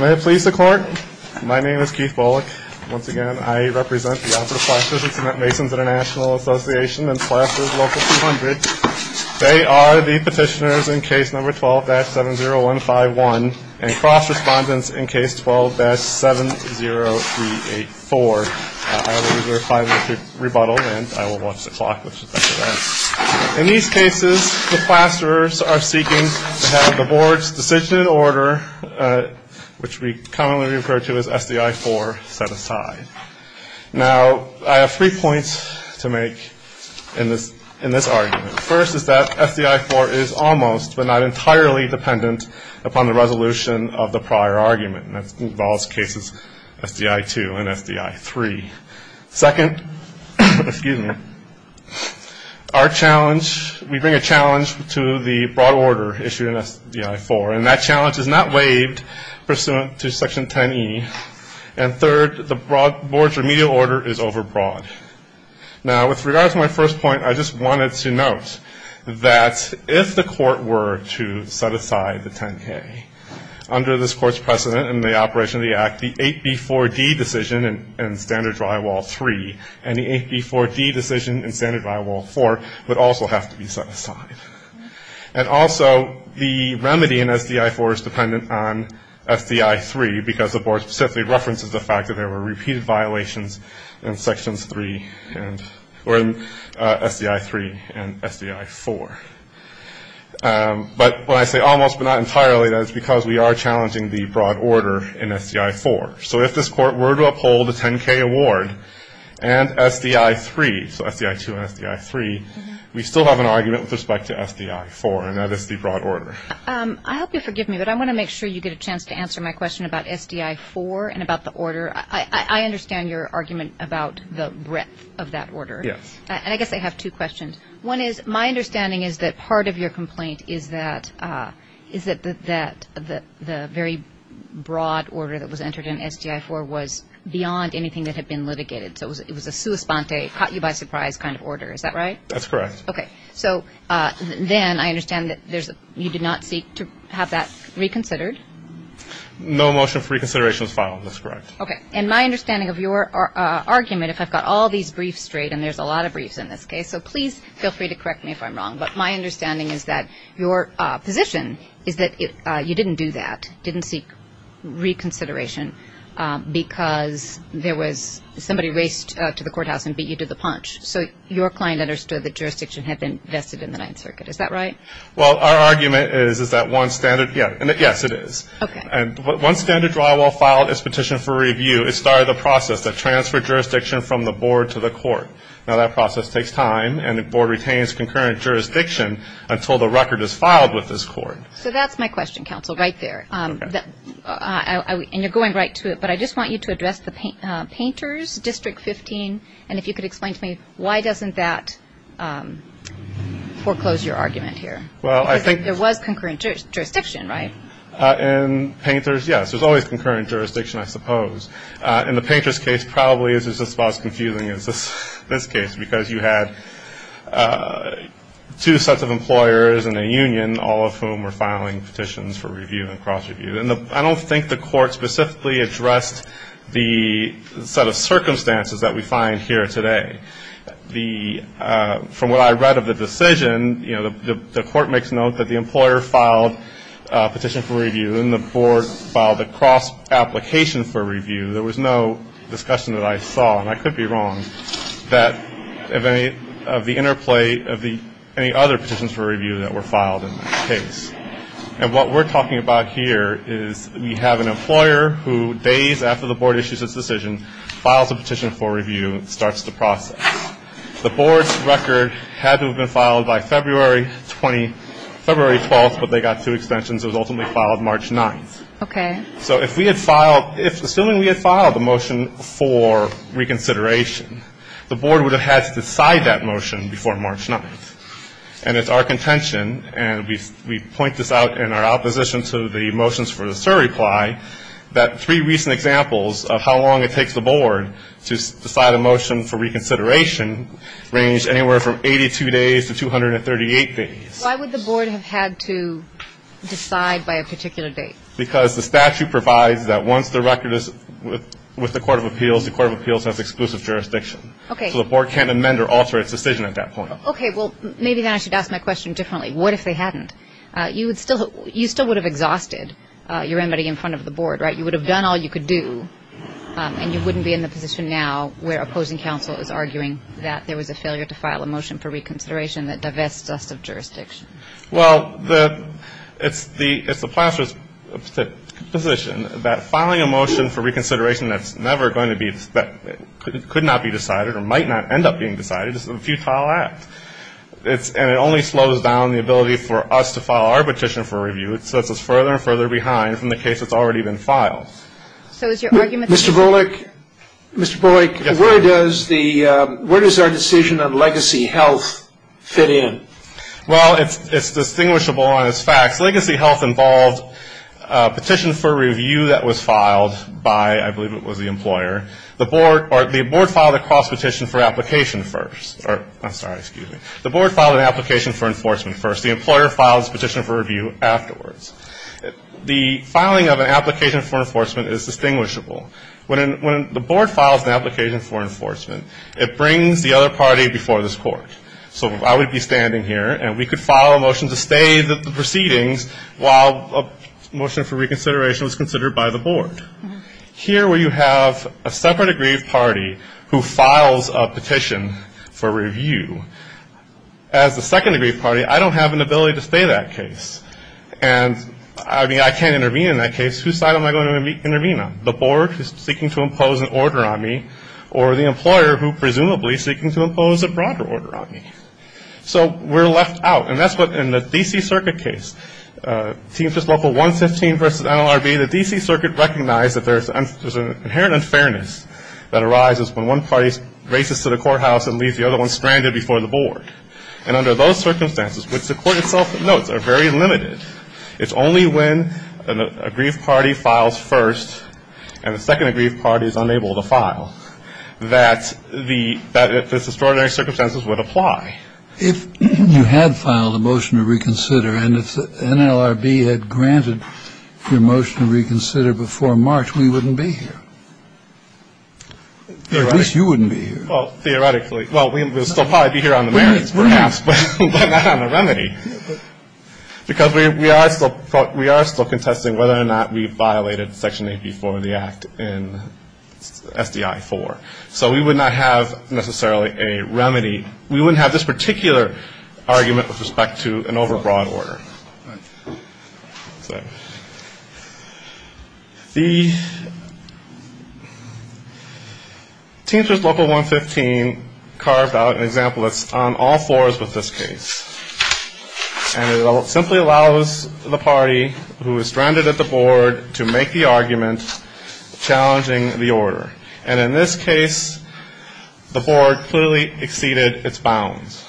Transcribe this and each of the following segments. May it please the Court, my name is Keith Bullock. Once again, I represent the Operative Classrooms at Mason's International Association and Classrooms Local 200. They are the petitioners in Case No. 12-70151 and cross-respondents in Case 12-70384. I will reserve five minutes to rebuttal and I will watch the clock. In these cases, the classrooms are seeking to have the Board's decision in order, which we commonly refer to as SDI 4, set aside. Now, I have three points to make in this argument. First is that SDI 4 is almost, but not entirely, dependent upon the resolution of the prior argument. That involves cases SDI 2 and SDI 3. Second, we bring a challenge to the broad order issued in SDI 4, and that challenge is not waived pursuant to Section 10e. And third, the Board's remedial order is overbroad. Now, with regard to my first point, I just wanted to note that if the Court were to set aside the 10k, under this Court's precedent in the operation of the Act, the 8b4d decision in Standard Drywall 3 and the 8b4d decision in Standard Drywall 4 would also have to be set aside. And also, the remedy in SDI 4 is dependent on SDI 3, because the Board specifically references the fact that there were repeated violations in Sections 3 and SDI 3 and SDI 4. But when I say almost, but not entirely, that is because we are challenging the broad order in SDI 4. So if this Court were to uphold the 10k award and SDI 3, so SDI 2 and SDI 3, we still have an argument with respect to SDI 4, and that is the broad order. I hope you'll forgive me, but I want to make sure you get a chance to answer my question about SDI 4 and about the order. I understand your argument about the breadth of that order. Yes. And I guess I have two questions. One is, my understanding is that part of your complaint is that the very broad order that was entered in SDI 4 was beyond anything that had been litigated. So it was a sua sponte, caught you by surprise kind of order. Is that right? That's correct. Okay. So then I understand that you did not seek to have that reconsidered. No motion for reconsideration was filed. That's correct. Okay. And my understanding of your argument, if I've got all these briefs straight, and there's a lot of briefs in this case, so please feel free to correct me if I'm wrong, but my understanding is that your position is that you didn't do that, didn't seek reconsideration, because there was somebody raced to the courthouse and beat you to the punch. So your client understood that jurisdiction had been vested in the Ninth Circuit. Is that right? Well, our argument is that one standard, yes, it is. Okay. And one standard drywall filed its petition for review. It started the process that transferred jurisdiction from the board to the court. Now, that process takes time, and the board retains concurrent jurisdiction until the record is filed with this court. So that's my question, counsel, right there. And you're going right to it, but I just want you to address the Painters, District 15, and if you could explain to me why doesn't that foreclose your argument here? Because there was concurrent jurisdiction, right? In Painters, yes, there's always concurrent jurisdiction, I suppose. In the Painters case, probably it's just about as confusing as this case, because you had two sets of employers and a union, all of whom were filing petitions for review and cross-review. And I don't think the court specifically addressed the set of circumstances that we find here today. From what I read of the decision, you know, the court makes note that the employer filed a petition for review, then the board filed a cross-application for review. There was no discussion that I saw, and I could be wrong, of any other petitions for review that were filed in that case. And what we're talking about here is we have an employer who, days after the board issues its decision, files a petition for review and starts the process. The board's record had to have been filed by February 12th, but they got two extensions. It was ultimately filed March 9th. Okay. So if we had filed the motion for reconsideration, the board would have had to decide that motion before March 9th. And it's our contention, and we point this out in our opposition to the motions for the SIR reply, that three recent examples of how long it takes the board to decide a motion for reconsideration range anywhere from 82 days to 238 days. Why would the board have had to decide by a particular date? Because the statute provides that once the record is with the court of appeals, the court of appeals has exclusive jurisdiction. Okay. So the board can't amend or alter its decision at that point. Okay. Well, maybe then I should ask my question differently. What if they hadn't? You still would have exhausted your remedy in front of the board, right? You would have done all you could do, and you wouldn't be in the position now where opposing counsel is arguing that there was a failure to file a motion for reconsideration that divests us of jurisdiction. Well, it's the placer's position that filing a motion for reconsideration that's never going to be, that could not be decided or might not end up being decided is a futile act. And it only slows down the ability for us to file our petition for review. It sets us further and further behind from the case that's already been filed. Well, it's distinguishable on its facts. Legacy health involved a petition for review that was filed by, I believe it was the employer. The board filed a cross-petition for application first. I'm sorry, excuse me. The board filed an application for enforcement first. The employer files a petition for review afterwards. The filing of an application for enforcement is distinguishable. When the board files an application for enforcement, it brings the other party before this court. So I would be standing here, and we could file a motion to stay the proceedings while a motion for reconsideration was considered by the board. Here where you have a separate aggrieved party who files a petition for review, as the second aggrieved party, I don't have an ability to stay that case. And, I mean, I can't intervene in that case. Whose side am I going to intervene on? The board who's seeking to impose an order on me, or the employer who presumably is seeking to impose a broader order on me? So we're left out. And that's what, in the D.C. Circuit case, TMPS Local 115 v. NLRB, the D.C. Circuit recognized that there's an inherent unfairness that arises when one party races to the courthouse and leaves the other one stranded before the board. And under those circumstances, which the court itself notes are very limited, it's only when an aggrieved party files first, and the second aggrieved party is unable to file, that the extraordinary circumstances would apply. If you had filed a motion to reconsider, and if the NLRB had granted your motion to reconsider before March, we wouldn't be here. Or at least you wouldn't be here. Well, theoretically. Well, we would still probably be here on the merits, perhaps, but not on the remedy. Because we are still contesting whether or not we violated Section 84 of the Act in SDI 4. So we would not have necessarily a remedy. We wouldn't have this particular argument with respect to an overbroad order. The Teamsters Local 115 carved out an example that's on all floors with this case. And it simply allows the party who is stranded at the board to make the argument challenging the order. And in this case, the board clearly exceeded its bounds.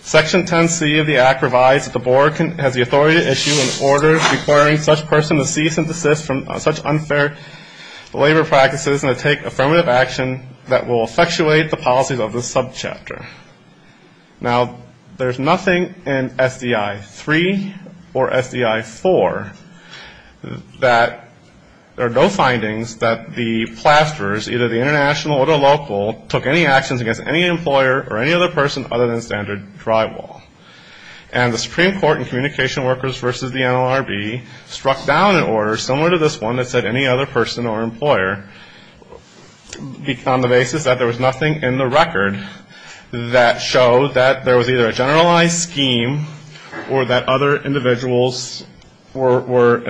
Section 10C of the Act provides that the board has the authority to issue an order requiring such person to cease and desist from such unfair labor practices and to take affirmative action that will effectuate the policies of this subchapter. Now, there's nothing in SDI 3 or SDI 4 that there are no findings that the plasters, either the international or the local, took any actions against any employer or any other person other than standard drywall. And the Supreme Court in Communication Workers v. the NLRB struck down an order similar to this one that said any other person or employer on the basis that there was nothing in the record that showed that there was either a generalized scheme or that other individuals were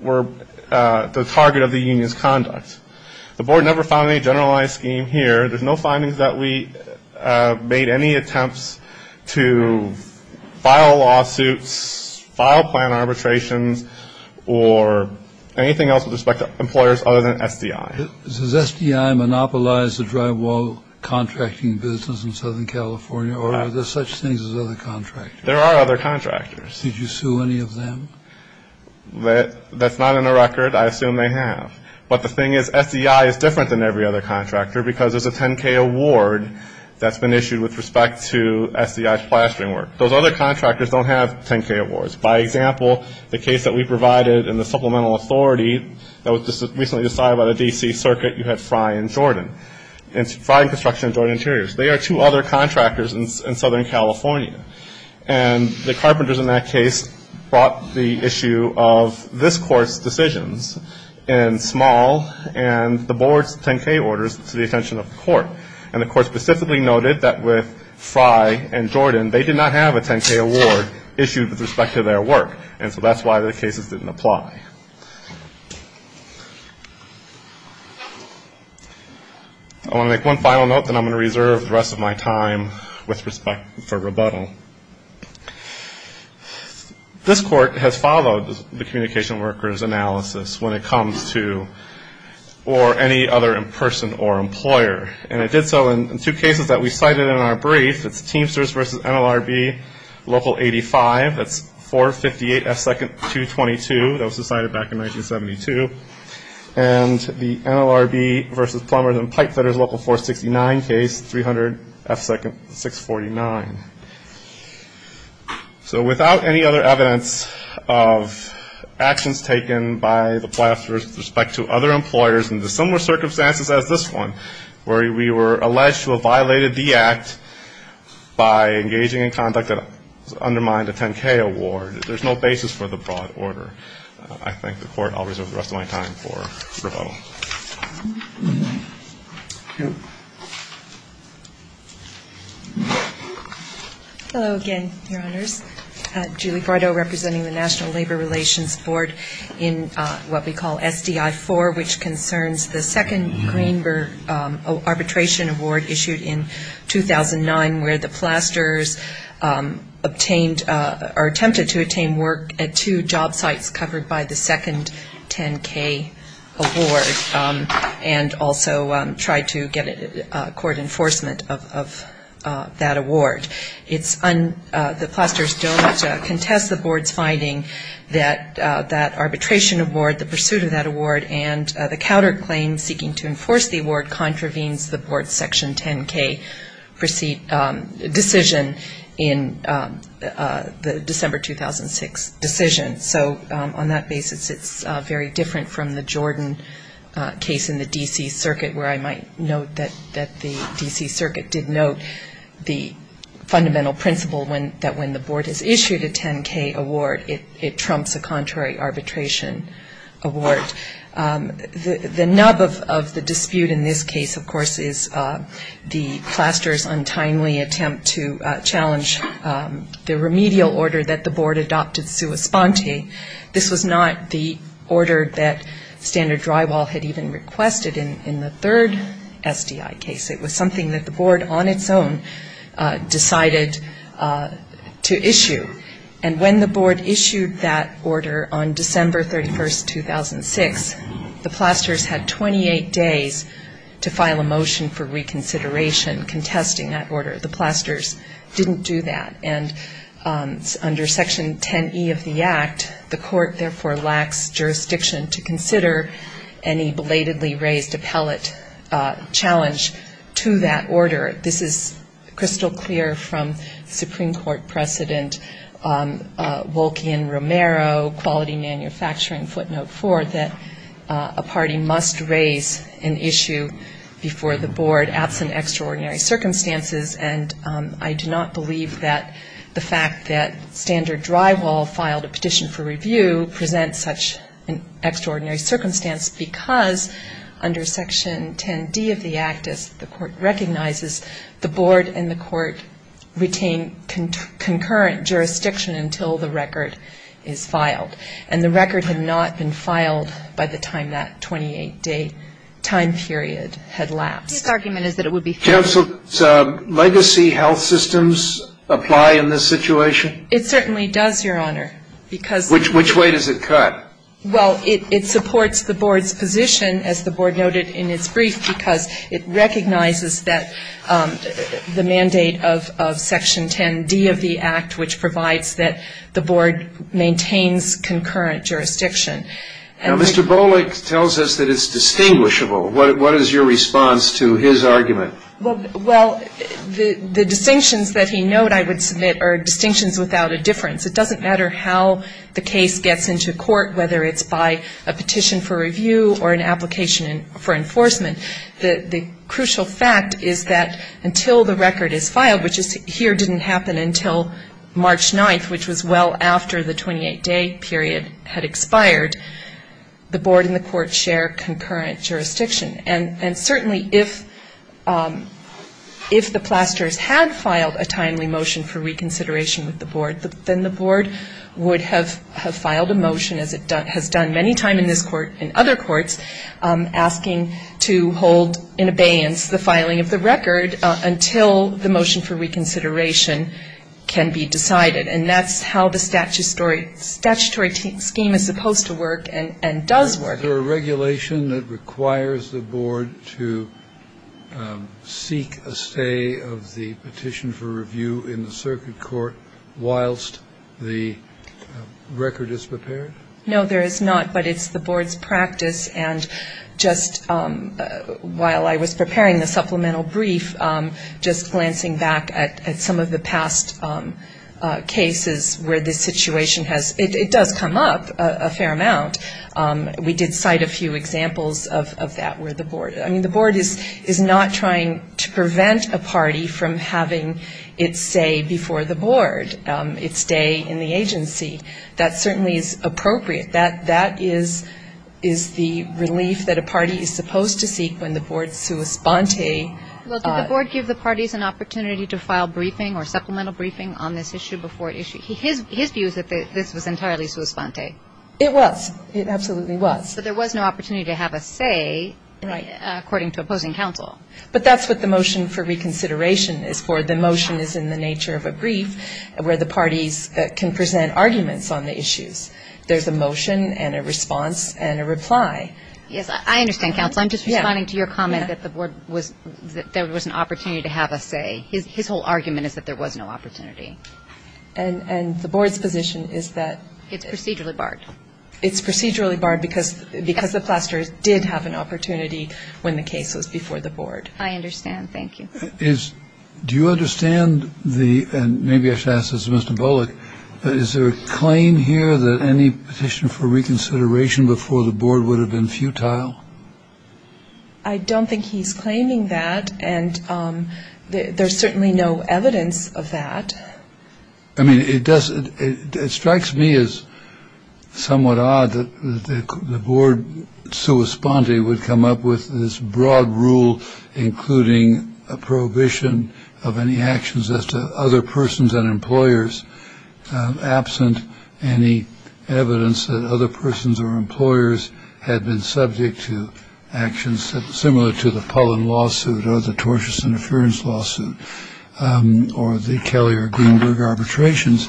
the target of the union's conduct. The board never found any generalized scheme here. There's no findings that we made any attempts to file lawsuits, file plan arbitrations, or anything else with respect to employers other than SDI. Does SDI monopolize the drywall contracting business in Southern California, or are there such things as other contractors? There are other contractors. Did you sue any of them? That's not in the record. I assume they have. But the thing is SDI is different than every other contractor because there's a 10-K award that's been issued with respect to SDI's plastering work. Those other contractors don't have 10-K awards. By example, the case that we provided in the Supplemental Authority that was recently decided by the D.C. Circuit, you had Frye and Jordan, Frye Construction and Jordan Interiors. They are two other contractors in Southern California. And the carpenters in that case brought the issue of this court's decisions in small and the board's 10-K orders to the attention of the court. And the court specifically noted that with Frye and Jordan, they did not have a 10-K award issued with respect to their work, and so that's why the cases didn't apply. I want to make one final note, then I'm going to reserve the rest of my time with respect for rebuttal. This court has followed the Communication Workers Analysis when it comes to or any other in-person or employer. And it did so in two cases that we cited in our brief. It's Teamsters v. NLRB, Local 85. That's 458F222. That was decided back in 1972. And the NLRB v. Plumbers and Pipefitters Local 469 case, 300F649. So without any other evidence of actions taken by the platform with respect to other employers in the similar circumstances as this one, where we were alleged to have violated the act by engaging in conduct that undermined a 10-K award, there's no basis for the broad order. I thank the Court. I'll reserve the rest of my time for rebuttal. Hello again, Your Honors. Julie Bardo representing the National Labor Relations Board in what we call SDI 4, which concerns the second Greenberg arbitration award issued in 2009, where the Plasters obtained or attempted to obtain work at two job sites covered by the second 10-K award and also tried to get court enforcement of that award. The Plasters don't contest the Board's finding that that arbitration award, the pursuit of that award, and the counterclaim seeking to enforce the award contravenes the Board's Section 10-K decision in the December 2006 decision. So on that basis, it's very different from the Jordan case in the D.C. Circuit, where I might note that the D.C. Circuit did note the fundamental principle that when the Board has issued a 10-K award, it trumps a contrary arbitration award. The nub of the dispute in this case, of course, is the Plasters' untimely attempt to challenge the remedial order that the Board adopted sua sponte. This was not the order that Standard Drywall had even requested in the third SDI case. It was something that the Board on its own decided to issue. And when the Board issued that order on December 31, 2006, the Plasters had 28 days to file a motion for reconsideration contesting that order. The Plasters didn't do that. And under Section 10-E of the Act, the court therefore lacks jurisdiction to consider any belatedly raised appellate challenge to that order. This is crystal clear from Supreme Court precedent, Wolke and Romero, Quality Manufacturing Footnote 4, that a party must raise an issue before the Board absent extraordinary circumstances. And I do not believe that the fact that Standard Drywall filed a petition for review presents such an extraordinary circumstance because under Section 10-D of the Act, as the court recognizes, the Board and the court retain concurrent jurisdiction until the record is filed. And the record had not been filed by the time that 28-day time period had lapsed. The case argument is that it would be fair. Counsel, do legacy health systems apply in this situation? It certainly does, Your Honor, because Which way does it cut? Well, it supports the Board's position, as the Board noted in its brief, because it recognizes that the mandate of Section 10-D of the Act, which provides that the Board maintains concurrent jurisdiction. Now, Mr. Bolick tells us that it's distinguishable. What is your response to his argument? Well, the distinctions that he noted, I would submit, are distinctions without a difference. It doesn't matter how the case gets into court, whether it's by a petition for review or an application for enforcement. The crucial fact is that until the record is filed, which here didn't happen until March 9th, which was well after the 28-day period had expired, the Board and the court share concurrent jurisdiction. And certainly if the plasters had filed a timely motion for reconsideration with the Board, then the Board would have filed a motion, as it has done many times in this Court and other courts, asking to hold in abeyance the filing of the record until the motion for reconsideration can be decided. And that's how the statutory scheme is supposed to work and does work. Is there a regulation that requires the Board to seek a stay of the petition for review in the circuit court whilst the record is prepared? No, there is not, but it's the Board's practice. And just while I was preparing the supplemental brief, just glancing back at some of the past cases where this situation has ‑‑ it does come up a fair amount. We did cite a few examples of that where the Board ‑‑ I mean, the Board is not trying to prevent a party from having its stay before the Board, its stay in the agency. That certainly is appropriate. That is the relief that a party is supposed to seek when the Board sui sponte. Well, did the Board give the parties an opportunity to file briefing or supplemental briefing on this issue before it issued? His view is that this was entirely sui sponte. It was. It absolutely was. But there was no opportunity to have a say according to opposing counsel. But that's what the motion for reconsideration is for. The motion is in the nature of a brief where the parties can present arguments on the issues. There's a motion and a response and a reply. Yes, I understand, counsel. I'm just responding to your comment that the Board was ‑‑ that there was an opportunity to have a say. His whole argument is that there was no opportunity. And the Board's position is that ‑‑ It's procedurally barred. It's procedurally barred because the Plasters did have an opportunity when the case was before the Board. I understand. Thank you. Do you understand the ‑‑ and maybe I should ask this to Mr. Bullock. Is there a claim here that any petition for reconsideration before the Board would have been futile? I don't think he's claiming that. And there's certainly no evidence of that. I mean, it does. It strikes me as somewhat odd that the Board so responding would come up with this broad rule, including a prohibition of any actions as to other persons and employers. Absent any evidence that other persons or employers had been subject to actions similar to the Pollen lawsuit or the tortious interference lawsuit or the Kelley or Gienberg arbitrations,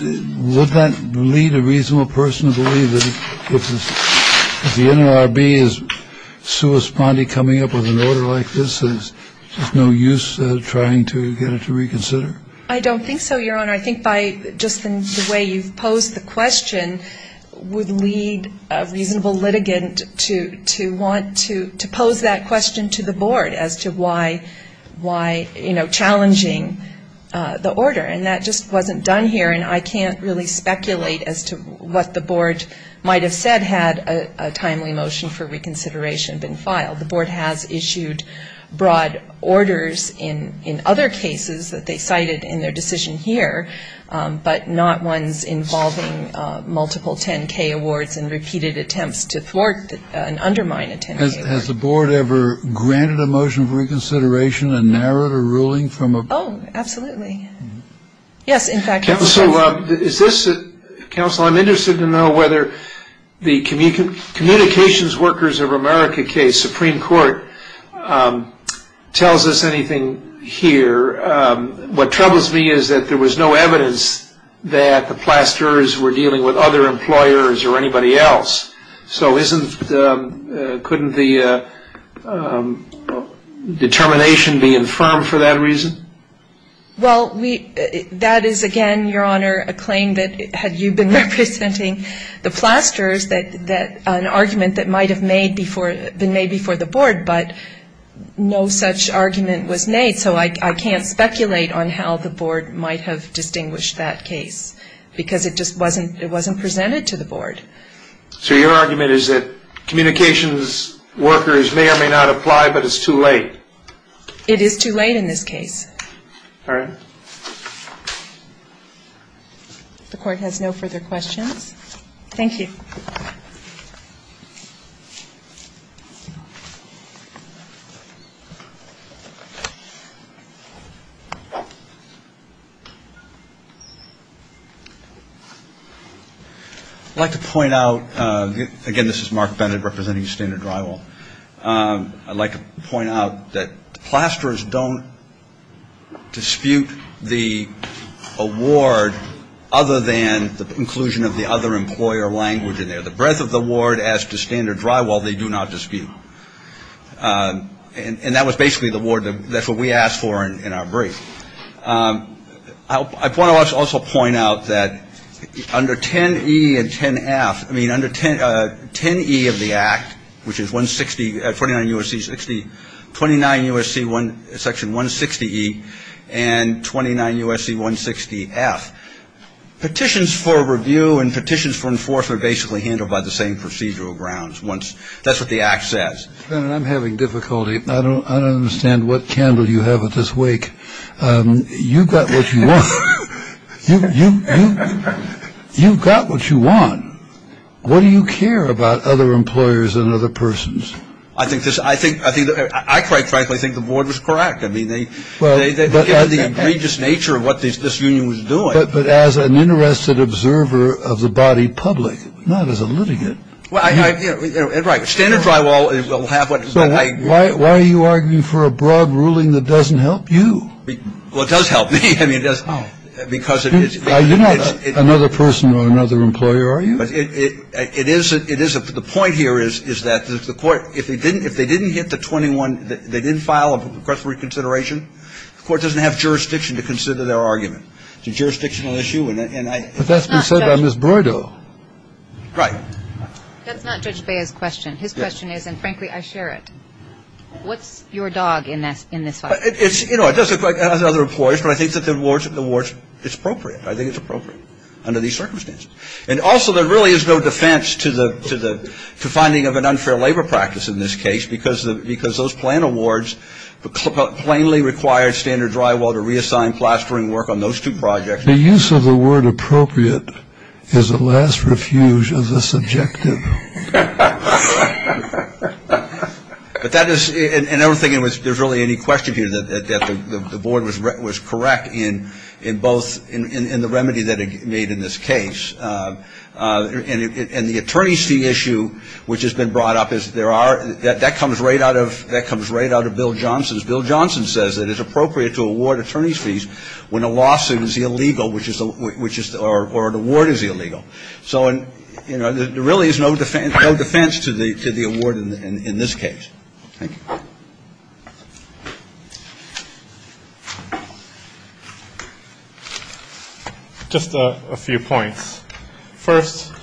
would that lead a reasonable person to believe that if the NLRB is so responding, coming up with an order like this, there's no use trying to get it to reconsider? I don't think so, Your Honor. Your Honor, I think by just the way you've posed the question, would lead a reasonable litigant to want to pose that question to the Board as to why, you know, challenging the order. And that just wasn't done here, and I can't really speculate as to what the Board might have said had a timely motion for reconsideration been filed. The Board has issued broad orders in other cases that they cited in their decision here, but not ones involving multiple 10-K awards and repeated attempts to thwart and undermine a 10-K award. Has the Board ever granted a motion for reconsideration and narrowed a ruling from a board? Oh, absolutely. Yes, in fact, it has. Counsel, I'm interested to know whether the Communications Workers of America case, Supreme Court, tells us anything here. What troubles me is that there was no evidence that the plasterers were dealing with other employers or anybody else. So couldn't the determination be infirmed for that reason? Well, that is, again, Your Honor, a claim that had you been representing the plasterers, that an argument that might have been made before the Board, but no such argument was made. So I can't speculate on how the Board might have distinguished that case because it just wasn't presented to the Board. So your argument is that communications workers may or may not apply, but it's too late. It is too late in this case. All right. If the Court has no further questions. Thank you. I'd like to point out, again, this is Mark Bennett representing Standard Drywall. I'd like to point out that plasterers don't dispute the award other than the inclusion of the other employer language in there. The breadth of the award as to Standard Drywall they do not dispute. And that was basically the award that we asked for in our brief. I want to also point out that under 10E and 10F, I mean, under 10E of the Act, which is 160, 29 U.S.C. 60, 29 U.S.C. section 160E and 29 U.S.C. 160F, petitions for review and petitions for enforcement are basically handled by the same procedural grounds. That's what the Act says. I'm having difficulty. I don't understand what candle you have at this wake. You've got what you want. You've got what you want. What do you care about other employers and other persons? I think this I think I think I quite frankly think the board was correct. I mean, they were the egregious nature of what this union was doing. But as an interested observer of the body public, not as a litigant. Well, I, right. Standard Drywall will have what it's going to have. So why are you arguing for a broad ruling that doesn't help you? Well, it does help me. I mean, it does. Oh. Because it's. You're not another person or another employer, are you? It is. It is. The point here is that the court, if they didn't hit the 21, they didn't file a request for reconsideration, the court doesn't have jurisdiction to consider their argument. It's a jurisdictional issue. And I. But that's been said by Ms. Broido. Right. That's not Judge Bea's question. His question is, and frankly, I share it. What's your dog in this fight? It's, you know, it doesn't quite, as other employers, but I think that the awards, it's appropriate. I think it's appropriate under these circumstances. And also, there really is no defense to the finding of an unfair labor practice in this case because those plan awards plainly required Standard Drywall to reassign plastering work on those two projects. The use of the word appropriate is a last refuge of the subjective. But that is, and I don't think there's really any question here that the board was correct in both, in the remedy that it made in this case. And the attorney's fee issue, which has been brought up, that comes right out of Bill Johnson's. attorney's fees when a lawsuit is illegal, which is, or an award is illegal. So, you know, there really is no defense to the award in this case. Thank you. Just a few points. First,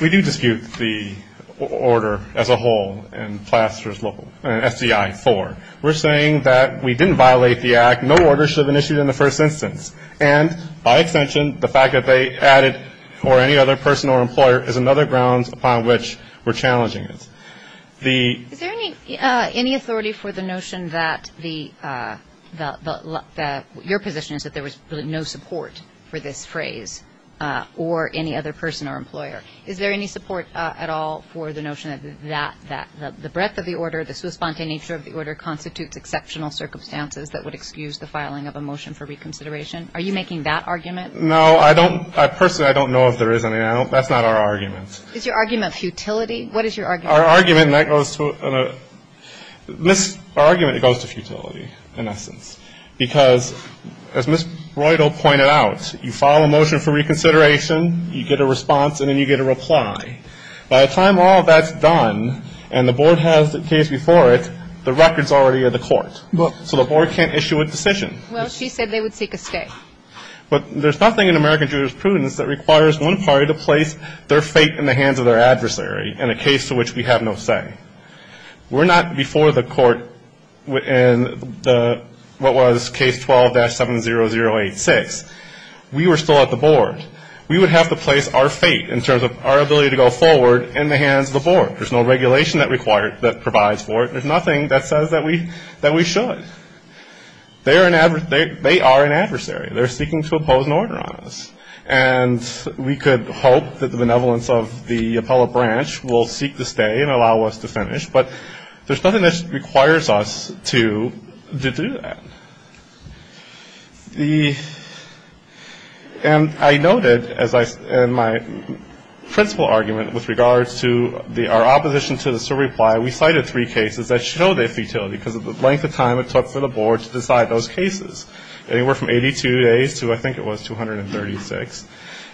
we do dispute the order as a whole in plaster's local, in SDI 4. We're saying that we didn't violate the act. No order should have been issued in the first instance. And, by extension, the fact that they added, or any other person or employer, is another grounds upon which we're challenging it. Is there any authority for the notion that your position is that there was no support for this phrase, or any other person or employer? Is there any support at all for the notion that the breadth of the order, the sous-spontane nature of the order constitutes exceptional circumstances that would excuse the filing of a motion for reconsideration? Are you making that argument? No. I don't, personally, I don't know if there is any. That's not our argument. Is your argument futility? What is your argument? Our argument, and that goes to, our argument, it goes to futility, in essence. Because, as Ms. Breidel pointed out, you file a motion for reconsideration, you get a response, and then you get a reply. By the time all of that's done, and the board has the case before it, the record's already at the court. So the board can't issue a decision. Well, she said they would seek a stay. But there's nothing in American jurisprudence that requires one party to place their fate in the hands of their adversary in a case to which we have no say. We're not before the court in the, what was case 12-70086. We were still at the board. We would have to place our fate, in terms of our ability to go forward, in the hands of the board. There's no regulation that provides for it. There's nothing that says that we should. They are an adversary. They're seeking to oppose an order on us. And we could hope that the benevolence of the appellate branch will seek the stay and allow us to finish. But there's nothing that requires us to do that. And I noted in my principal argument with regards to our opposition to this reply, we cited three cases that showed a futility because of the length of time it took for the board to decide those cases, anywhere from 82 days to, I think it was, 236.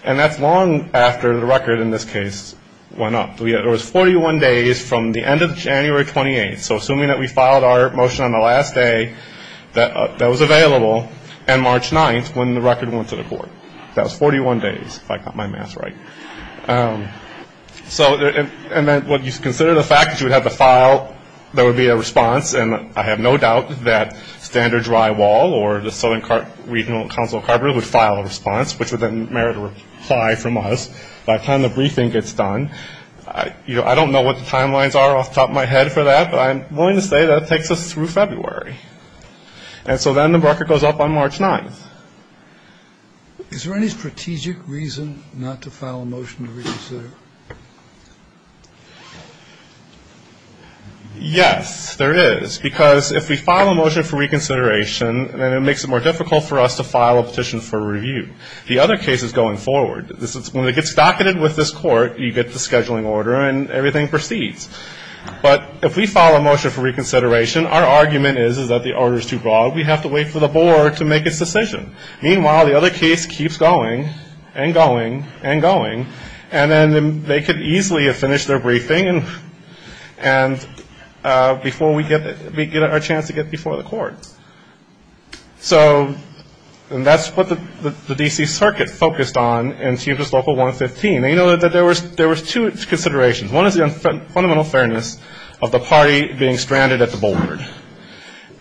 And that's long after the record in this case went up. It was 41 days from the end of January 28th. So, assuming that we filed our motion on the last day that was available, and March 9th, when the record went to the board. That was 41 days, if I got my math right. So, and then, when you consider the fact that you would have to file, there would be a response. And I have no doubt that Standard Drywall or the Southern Regional Council of Carpenters would file a response, which would then merit a reply from us by the time the briefing gets done. I don't know what the timelines are off the top of my head for that, but I'm willing to say that takes us through February. And so then the record goes up on March 9th. Is there any strategic reason not to file a motion to reconsider? Yes, there is. Because if we file a motion for reconsideration, then it makes it more difficult for us to file a petition for review. The other case is going forward. When it gets docketed with this court, you get the scheduling order, and everything proceeds. But if we file a motion for reconsideration, our argument is that the order is too broad. We have to wait for the board to make its decision. Meanwhile, the other case keeps going and going and going. And then they could easily have finished their briefing before we get our chance to get before the court. So that's what the D.C. Circuit focused on in CMS Local 115. They know that there was two considerations. One is the fundamental fairness of the party being stranded at the board.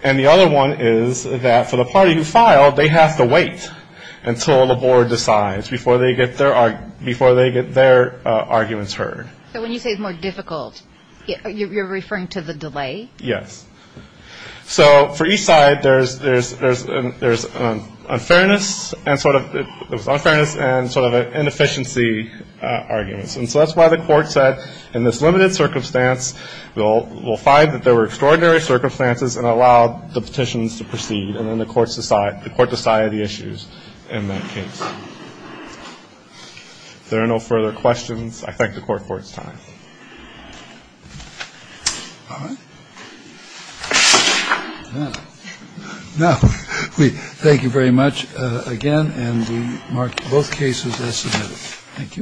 And the other one is that for the party who filed, they have to wait until the board decides before they get their arguments heard. So when you say it's more difficult, you're referring to the delay? Yes. So for each side, there's unfairness and sort of an inefficiency argument. And so that's why the court said, in this limited circumstance, we'll find that there were extraordinary circumstances and allow the petitions to proceed. And then the court decided the issues in that case. If there are no further questions, I thank the court for its time. All right. Now, we thank you very much again. And we mark both cases. Thank you.